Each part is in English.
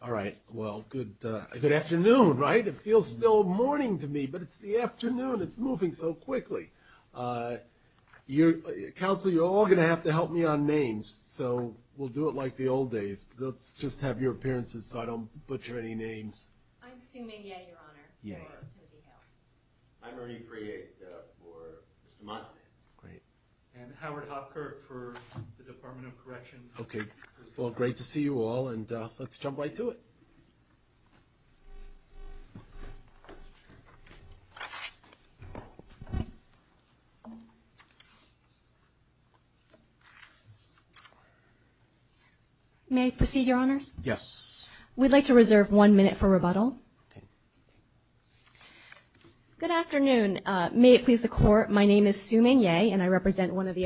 All right. Well, good afternoon, right? It feels still morning to me, but it's the afternoon. It's moving so quickly. Council, you're all going to have to help me on names, so we'll do it like the old days. Let's just have your appearances so I don't butcher any names. I'm Sue Mayday, Your Honor. Yeah. I'm Ernie Priet for Mr. Montanez. Great. And Howard Hopkirk for the Department of Corrections. Okay. Well, great to see you all, and let's jump right to it. May I proceed, Your Honors? Yes. We'd like to reserve one minute for rebuttal. Good afternoon. May it please the Court, my name is Sue Maynay, and I represent one of the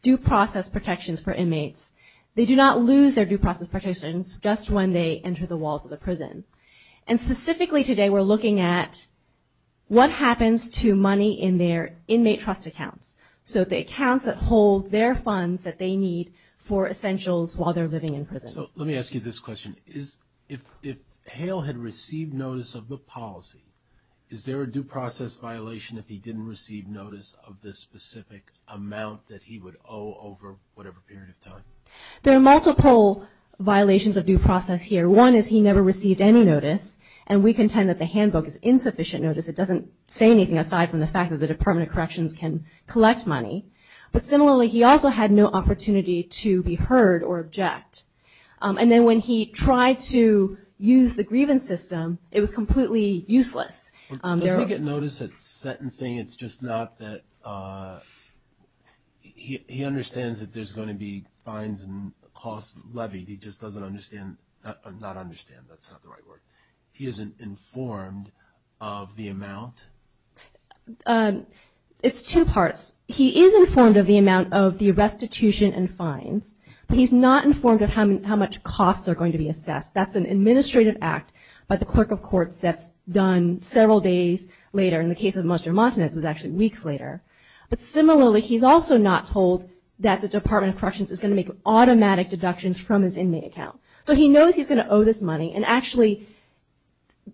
due process protections for inmates. They do not lose their due process protections just when they enter the walls of the prison. And specifically today, we're looking at what happens to money in their inmate trust accounts, so the accounts that hold their funds that they need for essentials while they're living in prison. So let me ask you this question. If Hale had received notice of the policy, is there a due process violation if he didn't receive notice of the specific amount that he would owe over whatever period of time? There are multiple violations of due process here. One is he never received any notice, and we contend that the handbook is insufficient notice. It doesn't say anything aside from the fact that the Department of Corrections can collect money. But similarly, he also had no opportunity to be heard or object. And then when he tried to use the grievance system, it was completely useless. Does he get notice at sentencing? It's just not that he understands that there's going to be fines and costs levied, he just doesn't understand, not understand, that's not the right word. He isn't informed of the amount? It's two parts. He is informed of the amount of the restitution and fines, but he's not informed of how much costs are going to be assessed. That's an administrative act by the clerk of courts that's done several days later. In the case of Monster Montanez, it was actually weeks later. But similarly, he's also not told that the Department of Corrections is going to make automatic deductions from his inmate account. So he knows he's going to owe this money, and actually,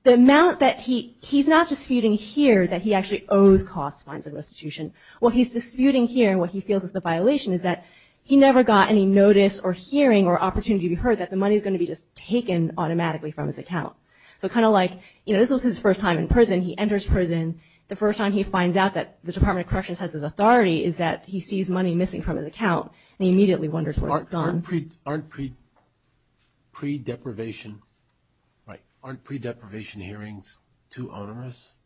the amount that he, he's not disputing here that he actually owes costs, fines, and restitution. What he's disputing here and what he feels is the violation is that he never got any notice or hearing or opportunity to be heard that the money is going to be just taken automatically from his account. So kind of like, you know, this was his first time in prison, he enters prison, the first time he finds out that the Department of Corrections has his authority is that he sees money missing from his account, and he immediately wonders where it's gone. Aren't pre-deprivation, aren't pre-deprivation hearings too onerous?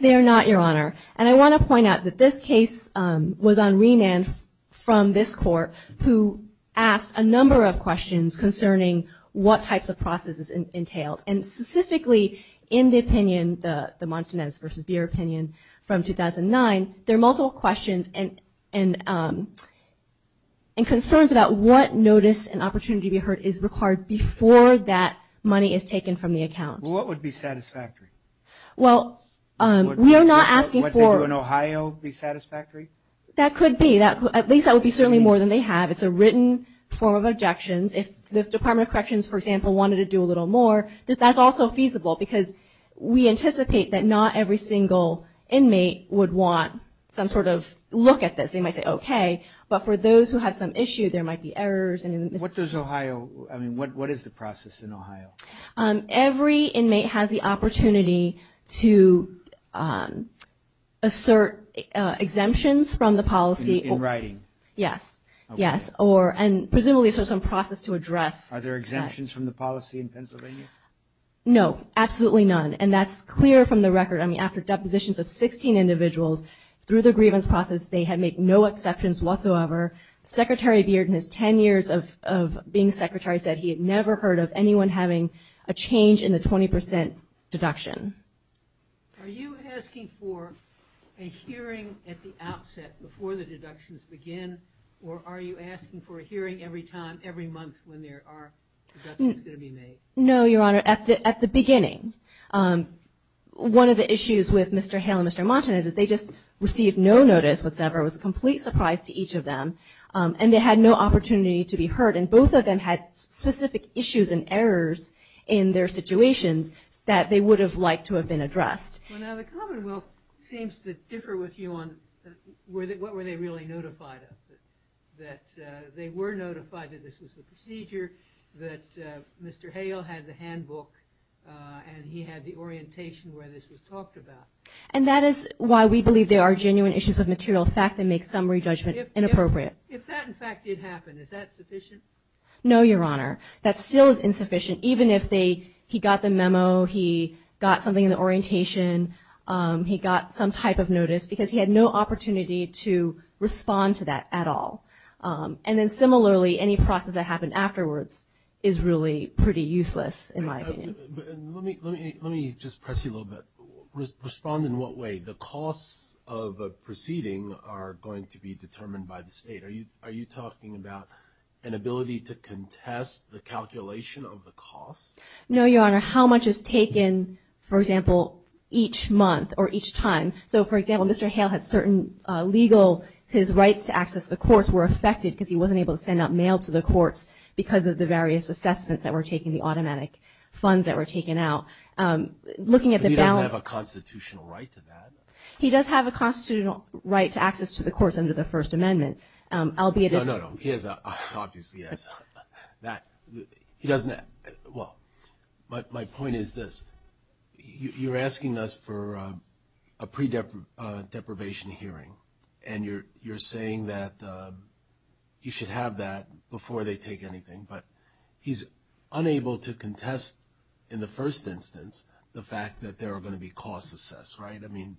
They are not, Your Honor. And I want to point out that this case was on remand from this court, who asked a number of questions concerning what types of processes entailed. And specifically, in the opinion, the Montanez versus Beer opinion from 2009, there are multiple questions and, and concerns about what notice and opportunity to be heard is required before that money is taken from the account. What would be satisfactory? Well, we are not asking for... Would what they do in Ohio be satisfactory? That could be. At least that would be certainly more than they have. It's a written form of objections. If the Department of Corrections, for example, wanted to do a little more, that's also feasible because we anticipate that not every single inmate would want some sort of look at this. They might say, okay, but for those who have some issue, there might be errors. What does Ohio, I mean, what is the process in Ohio? Every inmate has the opportunity to assert exemptions from the policy. In writing? Yes. Yes. Or, and presumably, so some process to address... Are there exemptions from the policy in Pennsylvania? No, absolutely none. And that's clear from the record. I mean, after depositions of 16 individuals through the grievance process, they have made no exceptions whatsoever. Secretary Beard in his 10 secretary said he had never heard of anyone having a change in the 20% deduction. Are you asking for a hearing at the outset before the deductions begin, or are you asking for a hearing every time, every month when there are deductions going to be made? No, Your Honor. At the beginning. One of the issues with Mr. Hale and Mr. Montan is that they just received no notice whatsoever. It was a complete surprise to each of them. And they had no opportunity to be heard. And both of them had specific issues and errors in their situations that they would have liked to have been addressed. Well, now the Commonwealth seems to differ with you on, what were they really notified of? That they were notified that this was the procedure, that Mr. Hale had the handbook, and he had the orientation where this was talked about. And that is why we believe there are genuine issues of material fact that make summary judgment inappropriate. If that, in fact, did happen, is that sufficient? No, Your Honor. That still is insufficient, even if he got the memo, he got something in the orientation, he got some type of notice, because he had no opportunity to respond to that at all. And then similarly, any process that happened afterwards is really pretty useless, in my opinion. Let me just press you a little bit. Respond in what way? The costs of a proceeding are going to be determined by the state. Are you talking about an ability to contest the calculation of the cost? No, Your Honor. How much is taken, for example, each month or each time? So, for example, Mr. Hale had certain legal, his rights to access the courts were affected because he wasn't able to send out mail to the courts because of the various assessments that were taken, the automatic funds that were taken out. Looking at the balance... But he doesn't have a constitutional right to that? He does have a constitutional right to access to the courts under the First Amendment, albeit... No, no, no. He has a... Obviously, yes. Well, my point is this. You're asking us for a pre-deprivation hearing, and you're saying that you should have that before they take anything, but he's unable to contest, in the first instance, the fact that there are going to be costs assessed, right? I mean...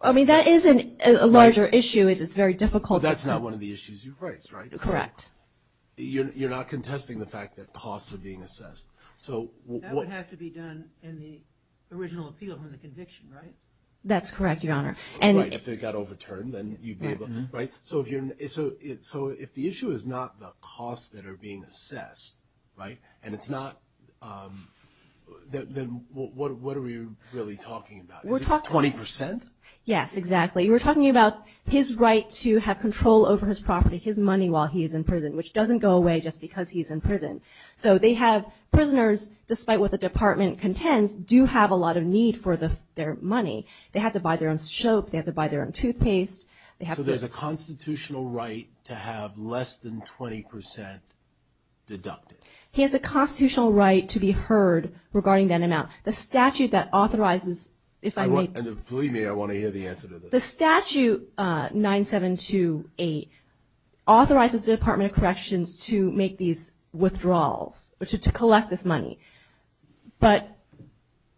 I mean, that is a larger issue. It's very difficult... That's not one of the issues you've raised, right? Correct. You're not contesting the fact that costs are being assessed. So... That would have to be done in the original appeal from the conviction, right? That's correct, Your Honor. Right. If it got overturned, then you'd be able... Right? So, if the issue is not the what are we really talking about? Is it 20%? Yes, exactly. We're talking about his right to have control over his property, his money while he's in prison, which doesn't go away just because he's in prison. So, they have prisoners, despite what the department contends, do have a lot of need for their money. They have to buy their own soap. They have to buy their own toothpaste. They have to... So, there's a constitutional right to have less than 20% deducted? He has a constitutional right to be heard regarding that amount. The statute that authorizes... If I may... Believe me, I want to hear the answer to this. The statute 9728 authorizes the Department of Corrections to make these withdrawals, to collect this money. But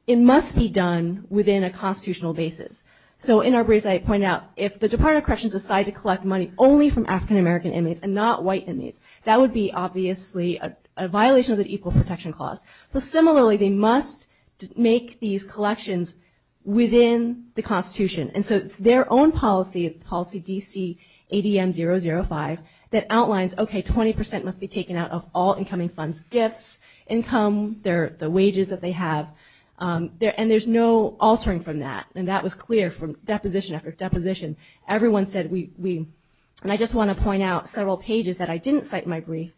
it must be done within a constitutional basis. So, in our briefs, I point out if the Department of Corrections decided to collect money only from African-American inmates and not white inmates, that would be obviously a violation of the Equal Protection Clause. So, similarly, they must make these collections within the Constitution. And so, it's their own policy, it's policy DC ADM 005, that outlines, okay, 20% must be taken out of all incoming funds, gifts, income, the wages that they have. And there's no altering from that. And that was clear from deposition after deposition. Everyone said we... And I just want to point out several pages that I didn't cite in my brief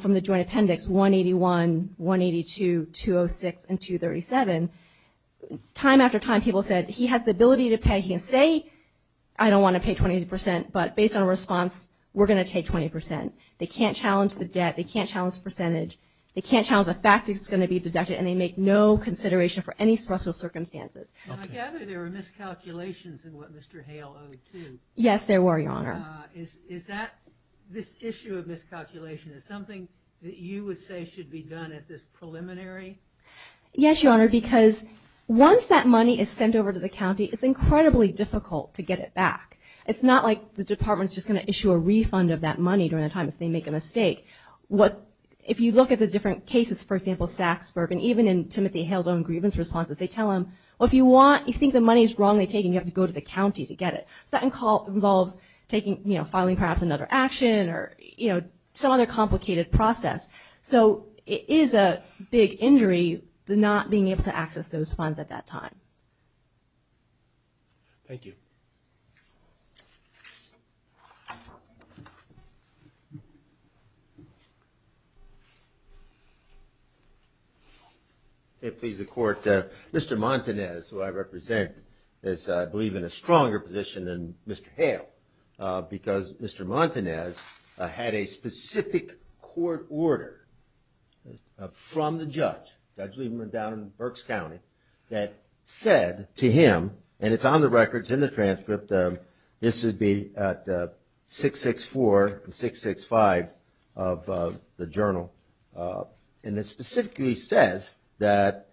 from the Joint Appendix 181, 182, 206, and 237. Time after time, people said, he has the ability to pay, he can say, I don't want to pay 20%, but based on response, we're going to take 20%. They can't challenge the debt, they can't challenge the percentage, they can't challenge the fact that it's going to be deducted, and they make no consideration for any special circumstances. I gather there were miscalculations in what Mr. Hale owed too. Yes, there were, Your Honor. Is that, this issue of miscalculation, is something that you would say should be done at this preliminary? Yes, Your Honor, because once that money is sent over to the county, it's incredibly difficult to get it back. It's not like the department's just going to issue a refund of that money during the time if they make a mistake. What, if you look at the different cases, for example, Saksburg, and even in Timothy Hale's own grievance responses, they tell him, well, if you want, you think the money's wrongly taken, you have to go to the county to get it. So that involves taking, you know, filing perhaps another action or, you know, some other complicated process. So it is a big injury, the not being able to access those funds at that time. Thank you. Okay, please, the court. Mr. Montanez, who I represent, is, I believe, in a stronger position than Mr. Hale because Mr. Montanez had a specific court order from the judge, Judge Lieberman down in Berks County, that said to him, and it's on the records in the transcript, this would be at 664 and 665 of the journal, and it specifically says that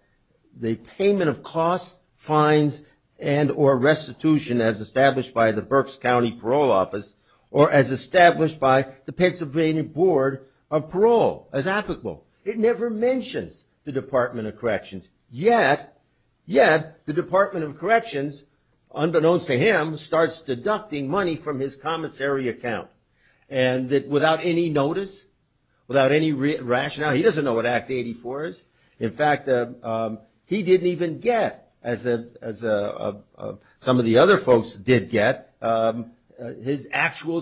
the payment of costs, fines, and or restitution as established by the Berks County Parole Office or as established by the Pennsylvania Board of Parole as applicable. It never mentions the Department of Corrections, yet the Department of Corrections, unbeknownst to him, starts deducting money from his commissary account and without any notice, without any rationale, he doesn't know what Act 84 is. In fact, he didn't even get, as some of the other folks did get, his actual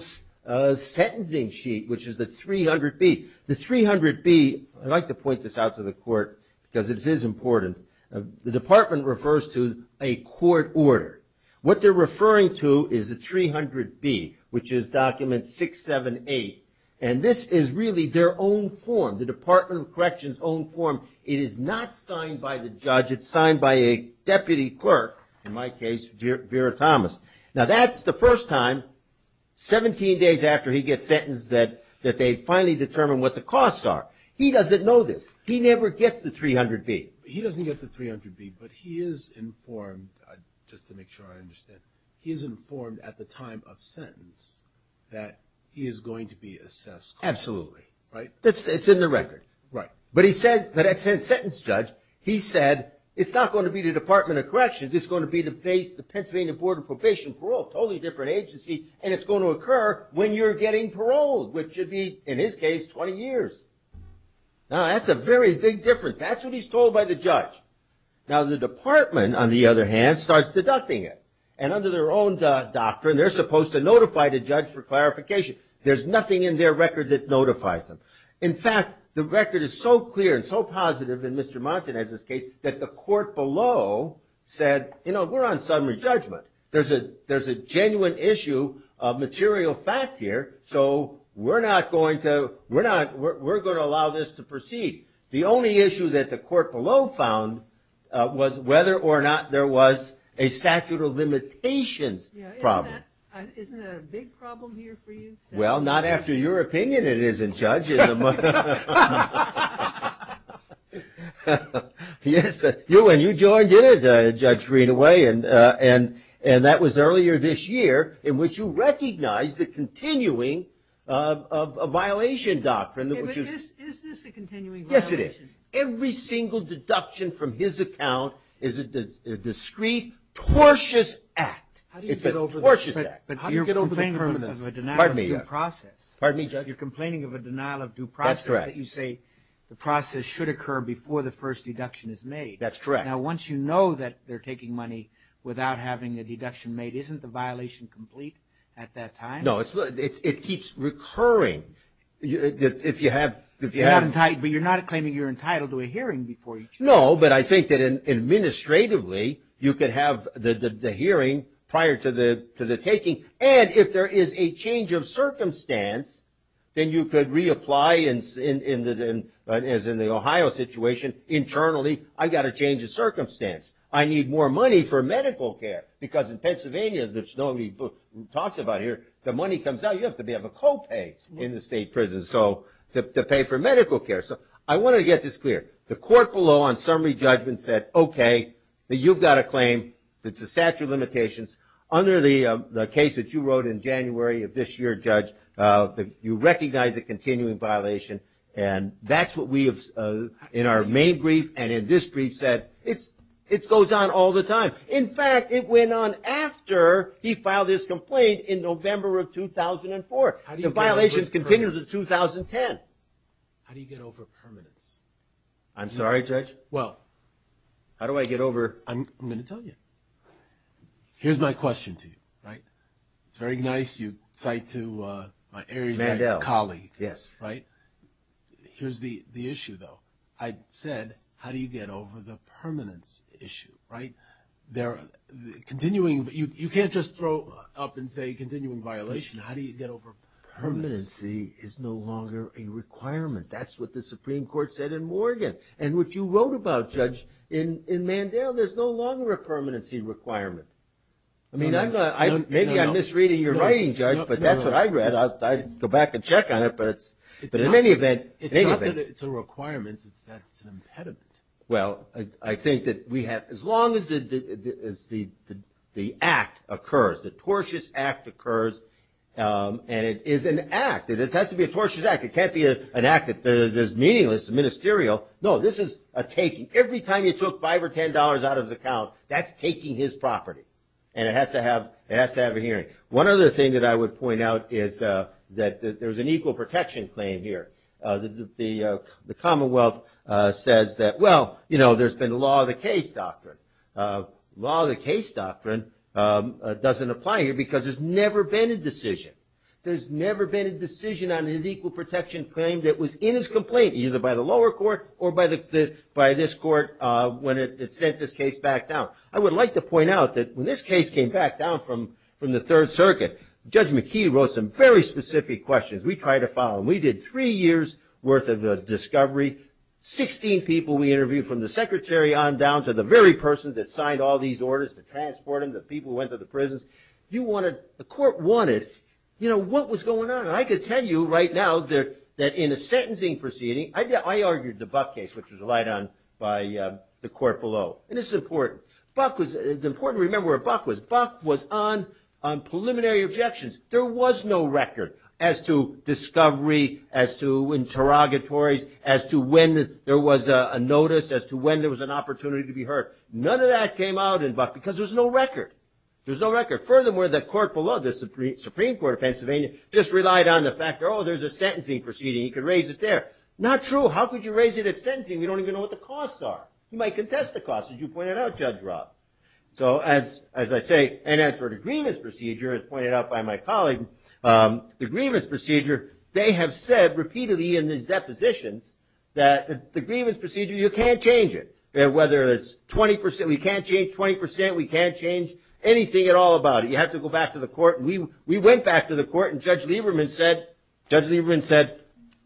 sentencing sheet, which is the 300B. The 300B, I'd like to point this out to the court because it is important, the department refers to a court order. What they're referring to is the 300B, which is document 678, and this is really their own form, the Department of Corrections' own form. It is not signed by the judge. It's signed by a deputy clerk, in my case, Vera Thomas. Now, that's the first time, 17 days after he gets sentenced, that they finally determine what the costs are. He doesn't know this. He never gets the 300B. He doesn't get the 300B, but he is informed, just to make sure I understand, he is informed at the time of sentence that he is going to be assessed. Absolutely. Right? It's in the record. Right. But he says, that sentence judge, he said, it's not going to be the Department of Corrections, it's going to be the Pennsylvania Board of Corrections, a different agency, and it's going to occur when you're getting paroled, which should be, in his case, 20 years. Now, that's a very big difference. That's what he's told by the judge. Now, the department, on the other hand, starts deducting it, and under their own doctrine, they're supposed to notify the judge for clarification. There's nothing in their record that notifies them. In fact, the record is so clear and so positive in Mr. Montanez's case that the court below said, you know, we're on summary judgment. There's a genuine issue of material fact here, so we're going to allow this to proceed. The only issue that the court below found was whether or not there was a statute of limitations problem. Isn't that a big problem here for you? Well, not after your opinion, it isn't, Judge. Yes, you and you joined in it, Judge Greenaway, and that was earlier this year, in which you recognized the continuing of a violation doctrine. Is this a continuing violation? Yes, it is. Every single deduction from his account is a discrete, tortious act. It's a tortious act. You're complaining of a denial of due process. You say the process should occur before the first deduction is made. That's correct. Now, once you know that they're taking money without having a deduction made, isn't the violation complete at that time? No, it keeps recurring. But you're not claiming you're entitled to a hearing before each? No, but I think that administratively, you could have the hearing prior to the taking, and if there is a change of circumstance, then you could reapply, as in the Ohio situation, internally, I've got to change the circumstance. I need more money for medical care, because in Pennsylvania, which nobody talks about here, the money comes out, you have to have a co-pay in the state prison to pay for medical care. So I want to get this clear. The court below on summary judgment said, OK, you've got a claim that's a statute of limitations. Under the case that you wrote in January of this year, Judge, you recognize a continuing violation, and that's what we have, in our main brief and in this brief, said it goes on all the time. In fact, it went on after he filed his complaint in November of 2004. The violations continued until 2010. How do you get over permanence? I'm sorry, Judge? Well, how do I get over, I'm going to tell you. Here's my question to you, right? It's very nice you cite to my area colleague, right? Here's the issue, though. I said, how do you get over the permanence issue, right? Continuing, you can't just throw up and say continuing violation. How do you get over permanency? Permanency is no longer a requirement. That's what the Supreme Court said in Morgan. And what you wrote about, Judge, in Mandel, there's no longer a permanency requirement. I mean, maybe I'm misreading your writing, Judge, but that's what I read. I'll go back and check on it. But in any event, it's not that it's a requirement. It's that it's an impediment. Well, I think that we have, as long as the act occurs, the tortious act occurs, and it is an act. It has to be a tortious act. It can't be an act that is meaningless, ministerial. No, this is a taking. Every time you took $5 or $10 out of his account, that's taking his property, and it has to have a hearing. One other thing that I would point out is that there's an equal protection claim here. The Commonwealth says that, well, there's been law of the case doctrine. Law of the case doctrine doesn't apply here because there's never been a decision. There's never been a decision on his equal protection claim that was in his complaint, either by the lower court or by this court when it sent this case back down. I would like to point out that when this case came back down from the Third Circuit, Judge McKee wrote some very specific questions. We tried to follow them. We did three years' worth of discovery, 16 people we interviewed from the secretary on down to the very person that signed all these orders to transport him, the people who went to the prisons. The court wanted what was going on. And I could tell you right now that in a sentencing proceeding, I argued the Buck case, which was relied on by the court below. And this is important. It's important to remember where Buck was. Buck was on preliminary objections. There was no record as to discovery, as to interrogatories, as to when there was a notice, as to when there was an opportunity to be heard. None of that came out in Buck because there's no record. There's no record. Furthermore, the court below, the Supreme Court of Pennsylvania, just relied on the fact, oh, there's a sentencing proceeding. You could raise it there. Not true. How could you raise it at sentencing? You don't even know what the costs are. You might contest the costs, as you pointed out, Judge Robb. So as I say, and as for the grievance procedure, as pointed out by my colleague, the grievance procedure, they have said repeatedly in these depositions that the grievance procedure, you can't change it. Whether it's 20%, we can't change 20%. We can't change anything at all about it. You have to go back to the court. And we went back to the court, and Judge Lieberman said,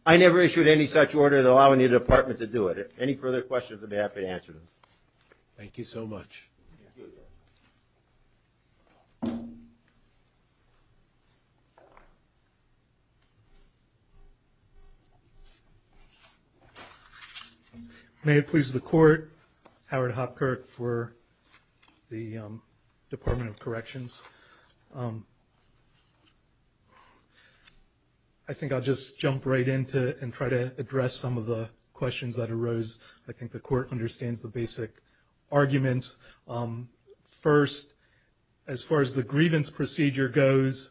I never issued any such order that allowed any department to do it. Any further questions, I'd be happy to answer them. Thank you so much. May it please the court, Howard Hopkirk for the Department of Corrections. I think I'll just jump right into and try to address some of the questions that arose. I think the court understands the basic arguments. First, as far as the grievance procedure goes,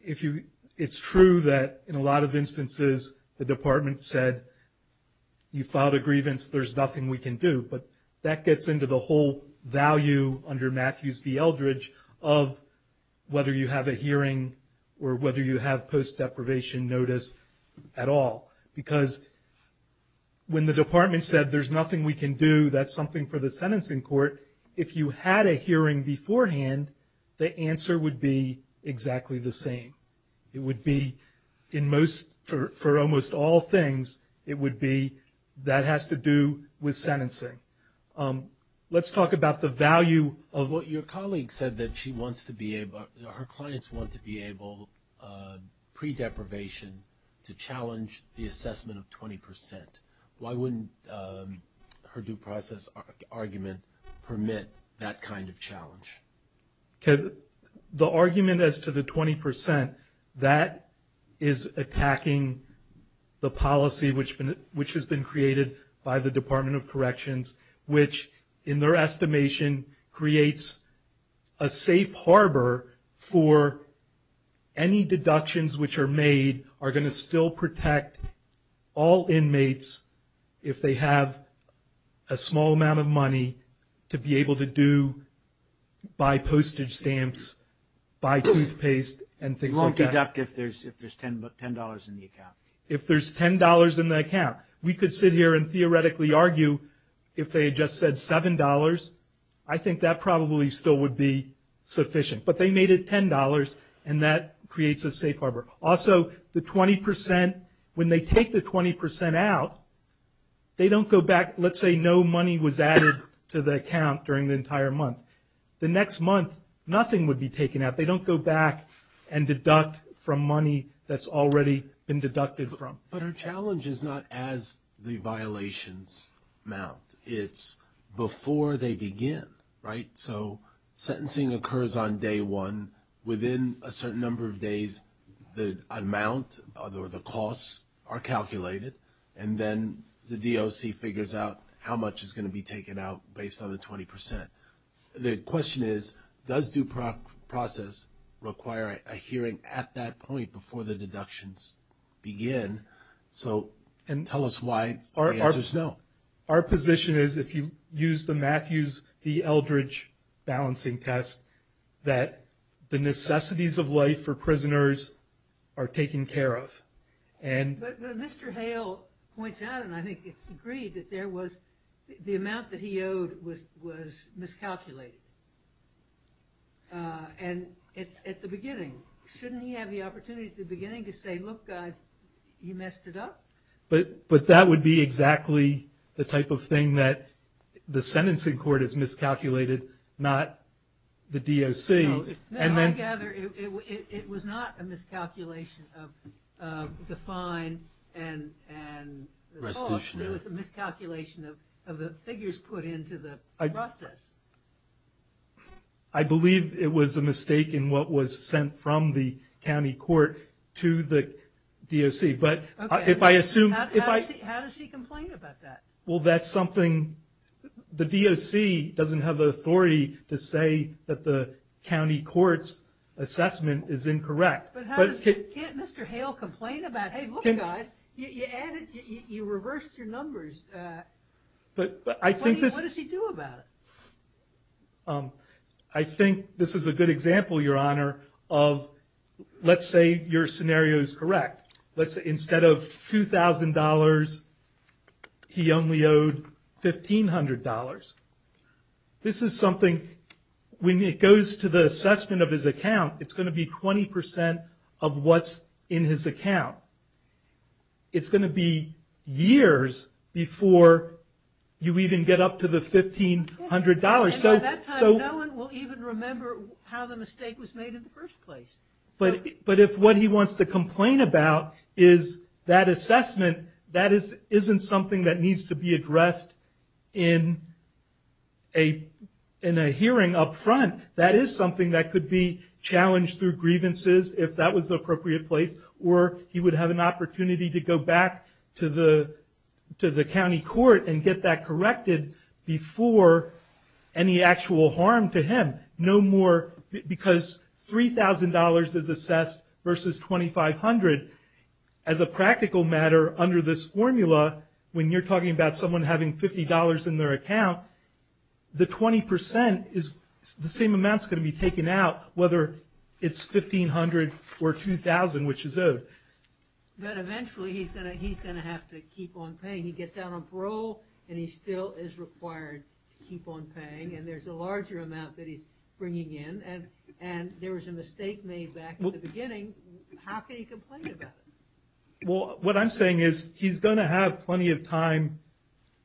if you, it's true that in a lot of instances, the department said, you filed a grievance, there's nothing we can do. But that gets into the whole value under Matthews v. Eldridge of whether you have a hearing or whether you have post-deprivation notice at all. Because when the department said, there's nothing we can do, that's something for the sentencing court. If you had a hearing beforehand, the answer would be exactly the same. It would be, in most, for almost all things, it would be, that has to do with sentencing. Let's talk about the value of what your colleague said that she wants to be able, her clients want to be able, pre-deprivation, to challenge the assessment of 20%. Why wouldn't her due process argument permit that kind of challenge? The argument as to the 20%, that is attacking the policy which has been created by the Department of Corrections, which, in their estimation, creates a safe harbor for any deductions which are made, are going to still protect all inmates if they have a small amount of money to be able to do, buy postage stamps, buy toothpaste, and things like that. You won't deduct if there's $10 in the account. If there's $10 in the account. We could sit here and theoretically argue, if they had just said $7, I think that probably still would be $10, and that creates a safe harbor. Also, the 20%, when they take the 20% out, they don't go back, let's say no money was added to the account during the entire month. The next month, nothing would be taken out. They don't go back and deduct from money that's already been deducted from. But her challenge is not as the violations mount. It's before they within a certain number of days, the amount or the costs are calculated, and then the DOC figures out how much is going to be taken out based on the 20%. The question is, does due process require a hearing at that point before the deductions begin? Tell us why the answer's no. Our position is, if you use the Matthews v. Eldridge balancing test, that the necessities of life for prisoners are taken care of. But Mr. Hale points out, and I think it's agreed, that the amount that he owed was miscalculated at the beginning. Shouldn't he have the opportunity at the beginning to say, look guys, you messed it up? But that would be exactly the type of thing that the sentencing court has miscalculated, not the DOC. No, I gather it was not a miscalculation of the fine and the cost. It was a miscalculation of the figures put into the process. I believe it was a mistake in what was sent from the county court to the DOC. But how does he complain about that? Well, that's something the DOC doesn't have the authority to say that the county court's assessment is incorrect. But can't Mr. Hale complain about, hey, look guys, you reversed your numbers. But what does he do about it? I think this is a good example, Your Honor, of let's say your scenario is correct. Let's say instead of $2,000, he only owed $1,500. This is something, when it goes to the assessment of his account, it's going to be 20% of what's in his account. It's going to be years before you even get up to the $1,500. At that time, no one will even remember how the mistake was made in the first place. But if what he wants to complain about is that assessment, that isn't something that needs to be addressed in a hearing up front. That is something that could be challenged through grievances, if that was the appropriate place, or he would have an opportunity to go back to the county court and get that corrected before any actual harm to him. No more, because $3,000 is assessed versus $2,500. As a practical matter, under this formula, when you're talking about someone having $50 in their account, the 20% is the same amount that's going to be taken out, whether it's $1,500 or $2,000, which is owed. But eventually, he's going to have to keep on paying. He gets out on parole, and he still is required to keep on paying, and there's a larger amount that he's bringing in, and there was a mistake made back at the beginning. How can he complain about it? Well, what I'm saying is, he's going to have plenty of time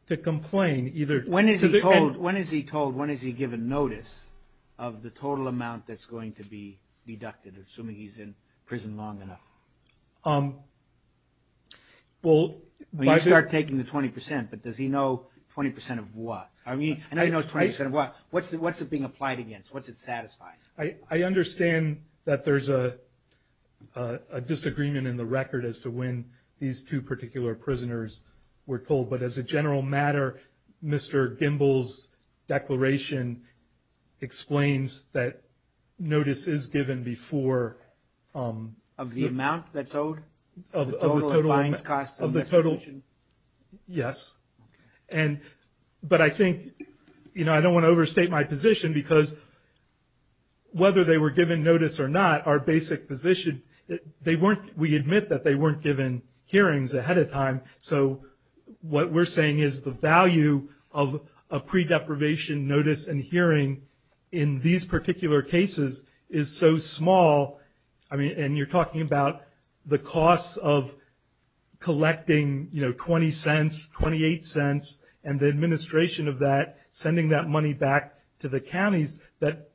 to complain. When is he told, when is he given notice of the total amount that's going to be deducted, assuming he's in prison long enough? You start taking the 20%, but does he know 20% of what? What's it being applied against? What's it satisfying? I understand that there's a disagreement in the record as to when these two particular prisoners were told, but as a general matter, Mr. Gimbel's declaration explains that notice is given before- Of the amount that's owed? Of the total- The total of fines, costs, and extortion? Yes, but I think, I don't want to overstate my position because whether they were given notice or not, our basic position, we admit that they weren't given hearings ahead of time, so what we're saying is the value of a pre-deprivation notice and hearing in these particular cases is so small, and you're talking about the costs of collecting $0.20, $0.28, and the administration of that sending that money back to the counties, that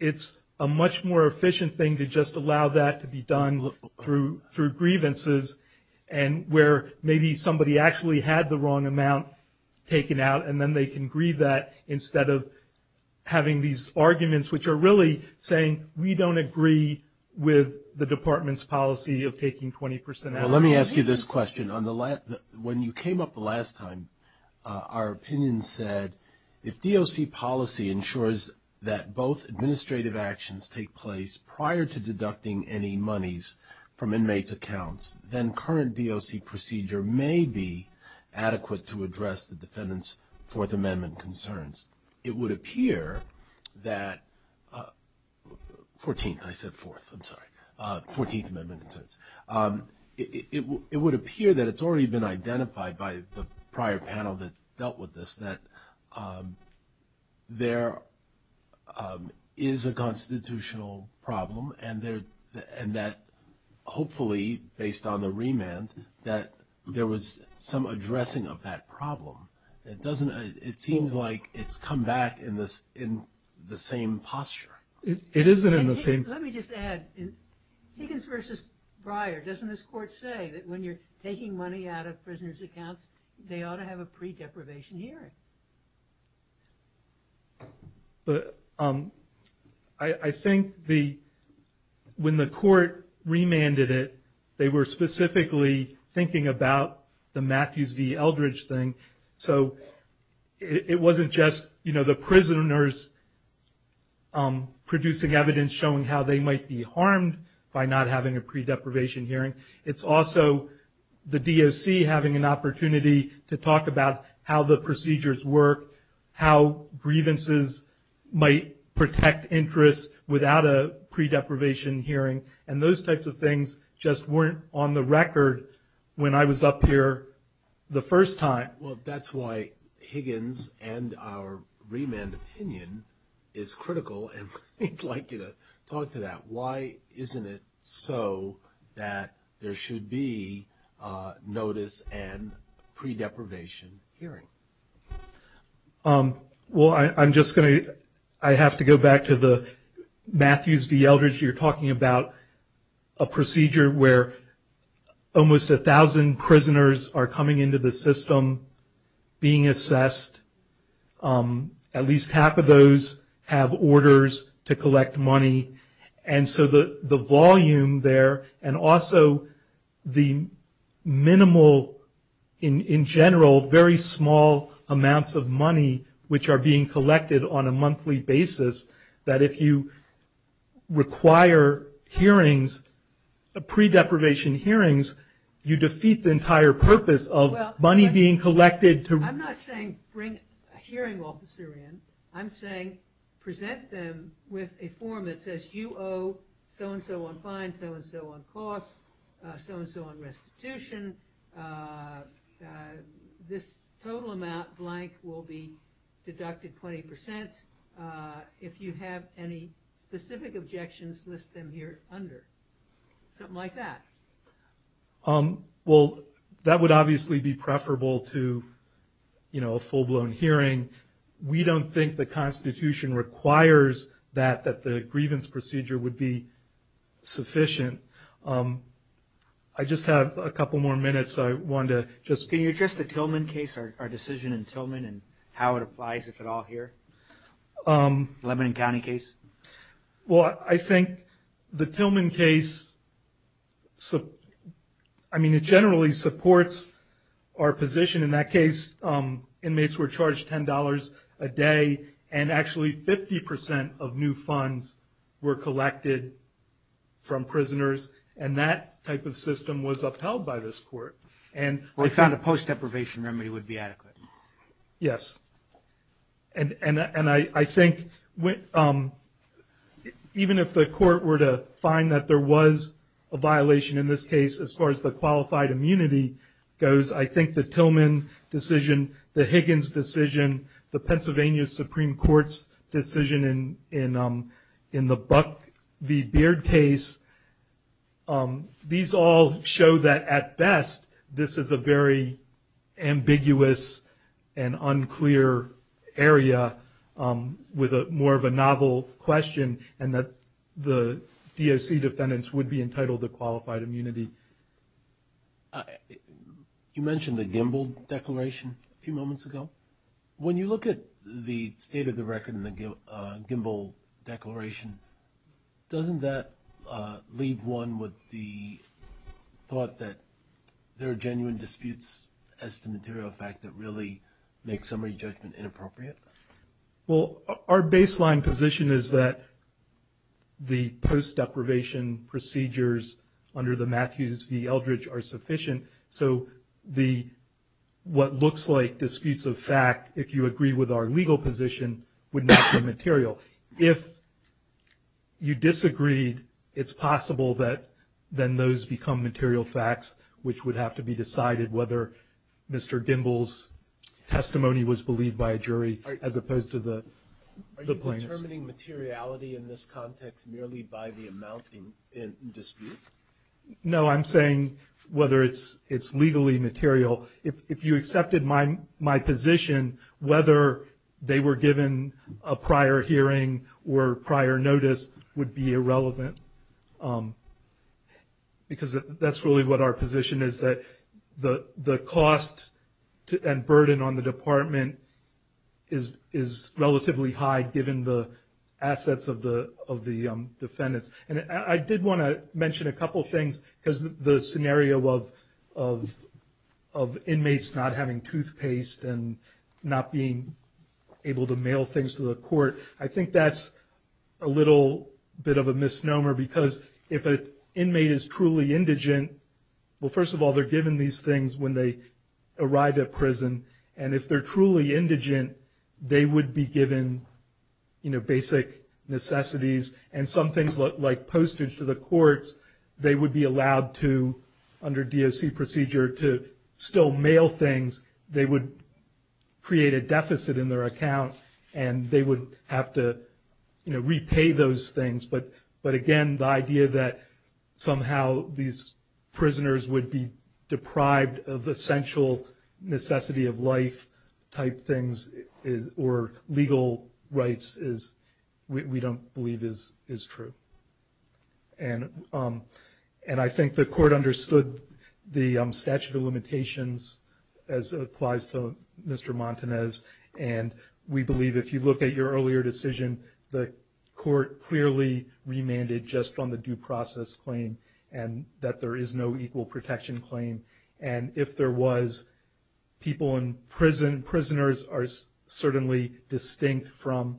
it's a much more efficient thing to just allow that to be done through grievances, and where maybe somebody actually had the wrong amount taken out, and then they can grieve that instead of having these arguments which are really saying, we don't agree with the department's policy of taking 20% out. Let me ask you this question. When you came up the last time, our opinion said, if DOC policy ensures that both administrative actions take place prior to deducting any monies from inmates' accounts, then current DOC procedure may be adequate to address the defendant's Fourth Amendment concerns. It would appear that it's already been identified by the prior panel that dealt with this that there is a constitutional problem, and that hopefully, based on the remand, that there was some addressing of that problem. It doesn't, it seems like it's come back in the same posture. It isn't in the same. Let me just add, Higgins versus Breyer, doesn't this court say that when you're taking money out of prisoners' accounts, they ought to have a pre-deprivation hearing? But I think the, when the court remanded it, they were specifically thinking about the pre-deprivation hearing, so it wasn't just the prisoners producing evidence showing how they might be harmed by not having a pre-deprivation hearing. It's also the DOC having an opportunity to talk about how the procedures work, how grievances might protect interests without a pre-deprivation hearing, and those types of things just weren't on the record when I was up here the first time. Well, that's why Higgins and our remand opinion is critical, and we'd like you to talk to that. Why isn't it so that there should be notice and pre-deprivation hearing? Well, I'm just going to, I have to go back to the Matthews v. Eldridge. You're talking about a procedure where almost 1,000 prisoners are coming into the system, being assessed. At least half of those have orders to collect money, and so the volume there, and also the minimal, in general, very small amounts of money which are being collected on a monthly basis, that if you require hearings, pre-deprivation hearings, you defeat the entire purpose of money being collected to- I'm not saying bring a hearing officer in. I'm saying present them with a form that says you owe so-and-so on fines, so-and-so on costs, so-and-so on restitution. This total amount blank will be deducted 20%. If you have any specific objections, list them here under. Something like that. Well, that would obviously be preferable to a full-blown hearing. We don't think the Constitution requires that, that the grievance procedure would be sufficient. I just have a couple more minutes. I wanted to just- Can you address the Tillman case, our decision in Tillman, and how it applies, if at all, here? Lebanon County case? Well, I think the Tillman case, I mean, it generally supports our position. In that case, inmates were charged $10 a day, and actually 50% of new funds were collected from prisoners, and that type of system was upheld by this court. And- We found a post-deprivation remedy would be adequate. Yes. And I think, even if the court were to find that there was a violation in this case, as far as the qualified immunity goes, I think the Tillman decision, the Higgins decision, the Pennsylvania Supreme Court's decision in the Buck v. Beard case, these all show that, at best, this is a very ambiguous and unclear area with more of a novel question, and that the DOC defendants would be entitled to qualified immunity. You mentioned the Gimbel Declaration a few moments ago. When you look at the state of the record in the Gimbel Declaration, doesn't that leave one with the thought that there are genuine disputes as to the material fact that really makes summary judgment inappropriate? Well, our baseline position is that the post-deprivation procedures under the Matthews v. Fact, if you agree with our legal position, would not be material. If you disagreed, it's possible that then those become material facts, which would have to be decided whether Mr. Gimbel's testimony was believed by a jury as opposed to the plaintiffs. Are you determining materiality in this context merely by the amount in dispute? No, I'm saying whether it's legally material. If you accepted my position, whether they were given a prior hearing or prior notice would be irrelevant because that's really what our position is, that the cost and burden on the department is relatively high given the assets of the defendants. I did want to mention a couple of things because the scenario of inmates not having toothpaste and not being able to mail things to the court, I think that's a little bit of a misnomer because if an inmate is truly indigent, well, first of all, they're given these things when they arrive at prison, and if they're truly indigent, they would be given basic necessities and some like postage to the courts. They would be allowed to, under DOC procedure, to still mail things. They would create a deficit in their account, and they would have to repay those things. But again, the idea that somehow these prisoners would be deprived of essential necessity of life type things or legal rights is, we don't believe is true. And I think the court understood the statute of limitations as applies to Mr. Montanez, and we believe if you look at your earlier decision, the court clearly remanded just on the due process claim and that there is no equal protection claim. And if there was, people in prison, prisoners are certainly distinct from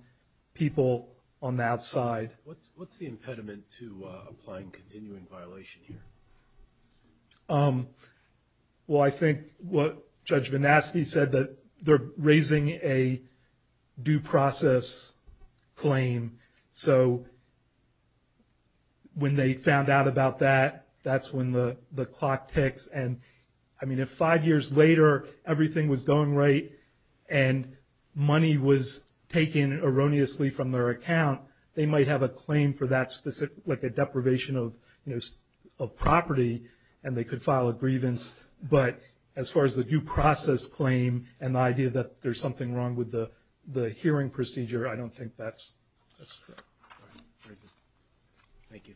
people on the outside. What's the impediment to applying continuing violation here? Well, I think what Judge Vanaski said, that they're raising a due process claim, so when they found out about that, that's when the clock ticks. And I mean, if five years later, everything was going right and money was taken erroneously from their account, they might have a claim for that specific, like a deprivation of property, and they could file a grievance. But as far as the due process claim and the idea that there's something wrong with the hearing procedure, I don't think that's true. Thank you.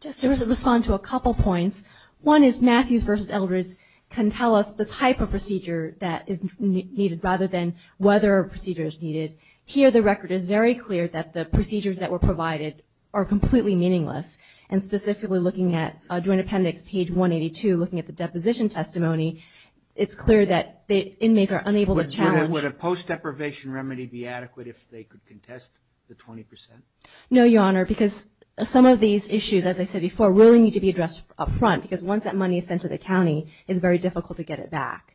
Just to respond to a couple points. One is Matthews v. Eldredge can tell us the type of procedure that is needed rather than whether a procedure is needed. Here, the record is very clear that the procedures that were provided are completely meaningless. And specifically looking at Joint Appendix page 182, looking at the deposition testimony, it's clear that the inmates are unable to challenge- Would a post-deprivation remedy be adequate if they could contest the 20%? No, Your Honor, because some of these issues, as I said before, really need to be addressed up front, because once that money is sent to the county, it's very difficult to get it back.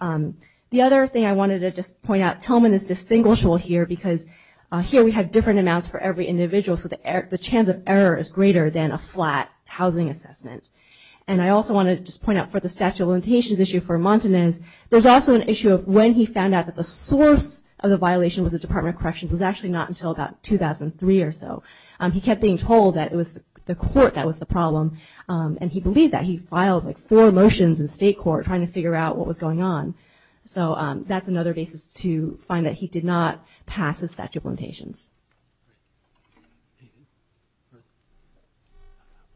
The other thing I wanted to just point out, Tillman is distinguishable here, because here we have different amounts for every individual, so the chance of error is greater than a flat housing assessment. And I also wanted to just point out for the statute of limitations issue for Montanez, there's also an issue of when he found out that the source of the violation was the Department of Corrections. It was actually not until about 2003 or so. He kept being told that it was the court that was the problem, and he believed that. He filed like four motions in state court trying to figure out what was going on. So that's another basis to find that he did not pass his statute of limitations.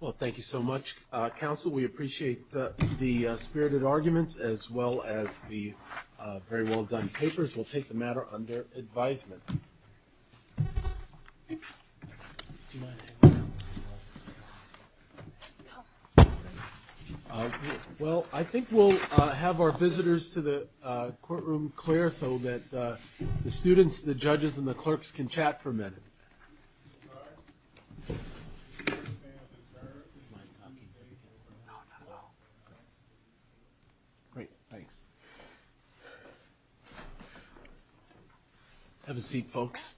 Well, thank you so much, counsel. We appreciate the spirited arguments, as well as the very well-done papers. We'll take the matter under advisement. Well, I think we'll have our visitors to the courtroom clear so that the students, the judges, and the clerks can chat for a minute. Great, thanks. Have a seat, folks.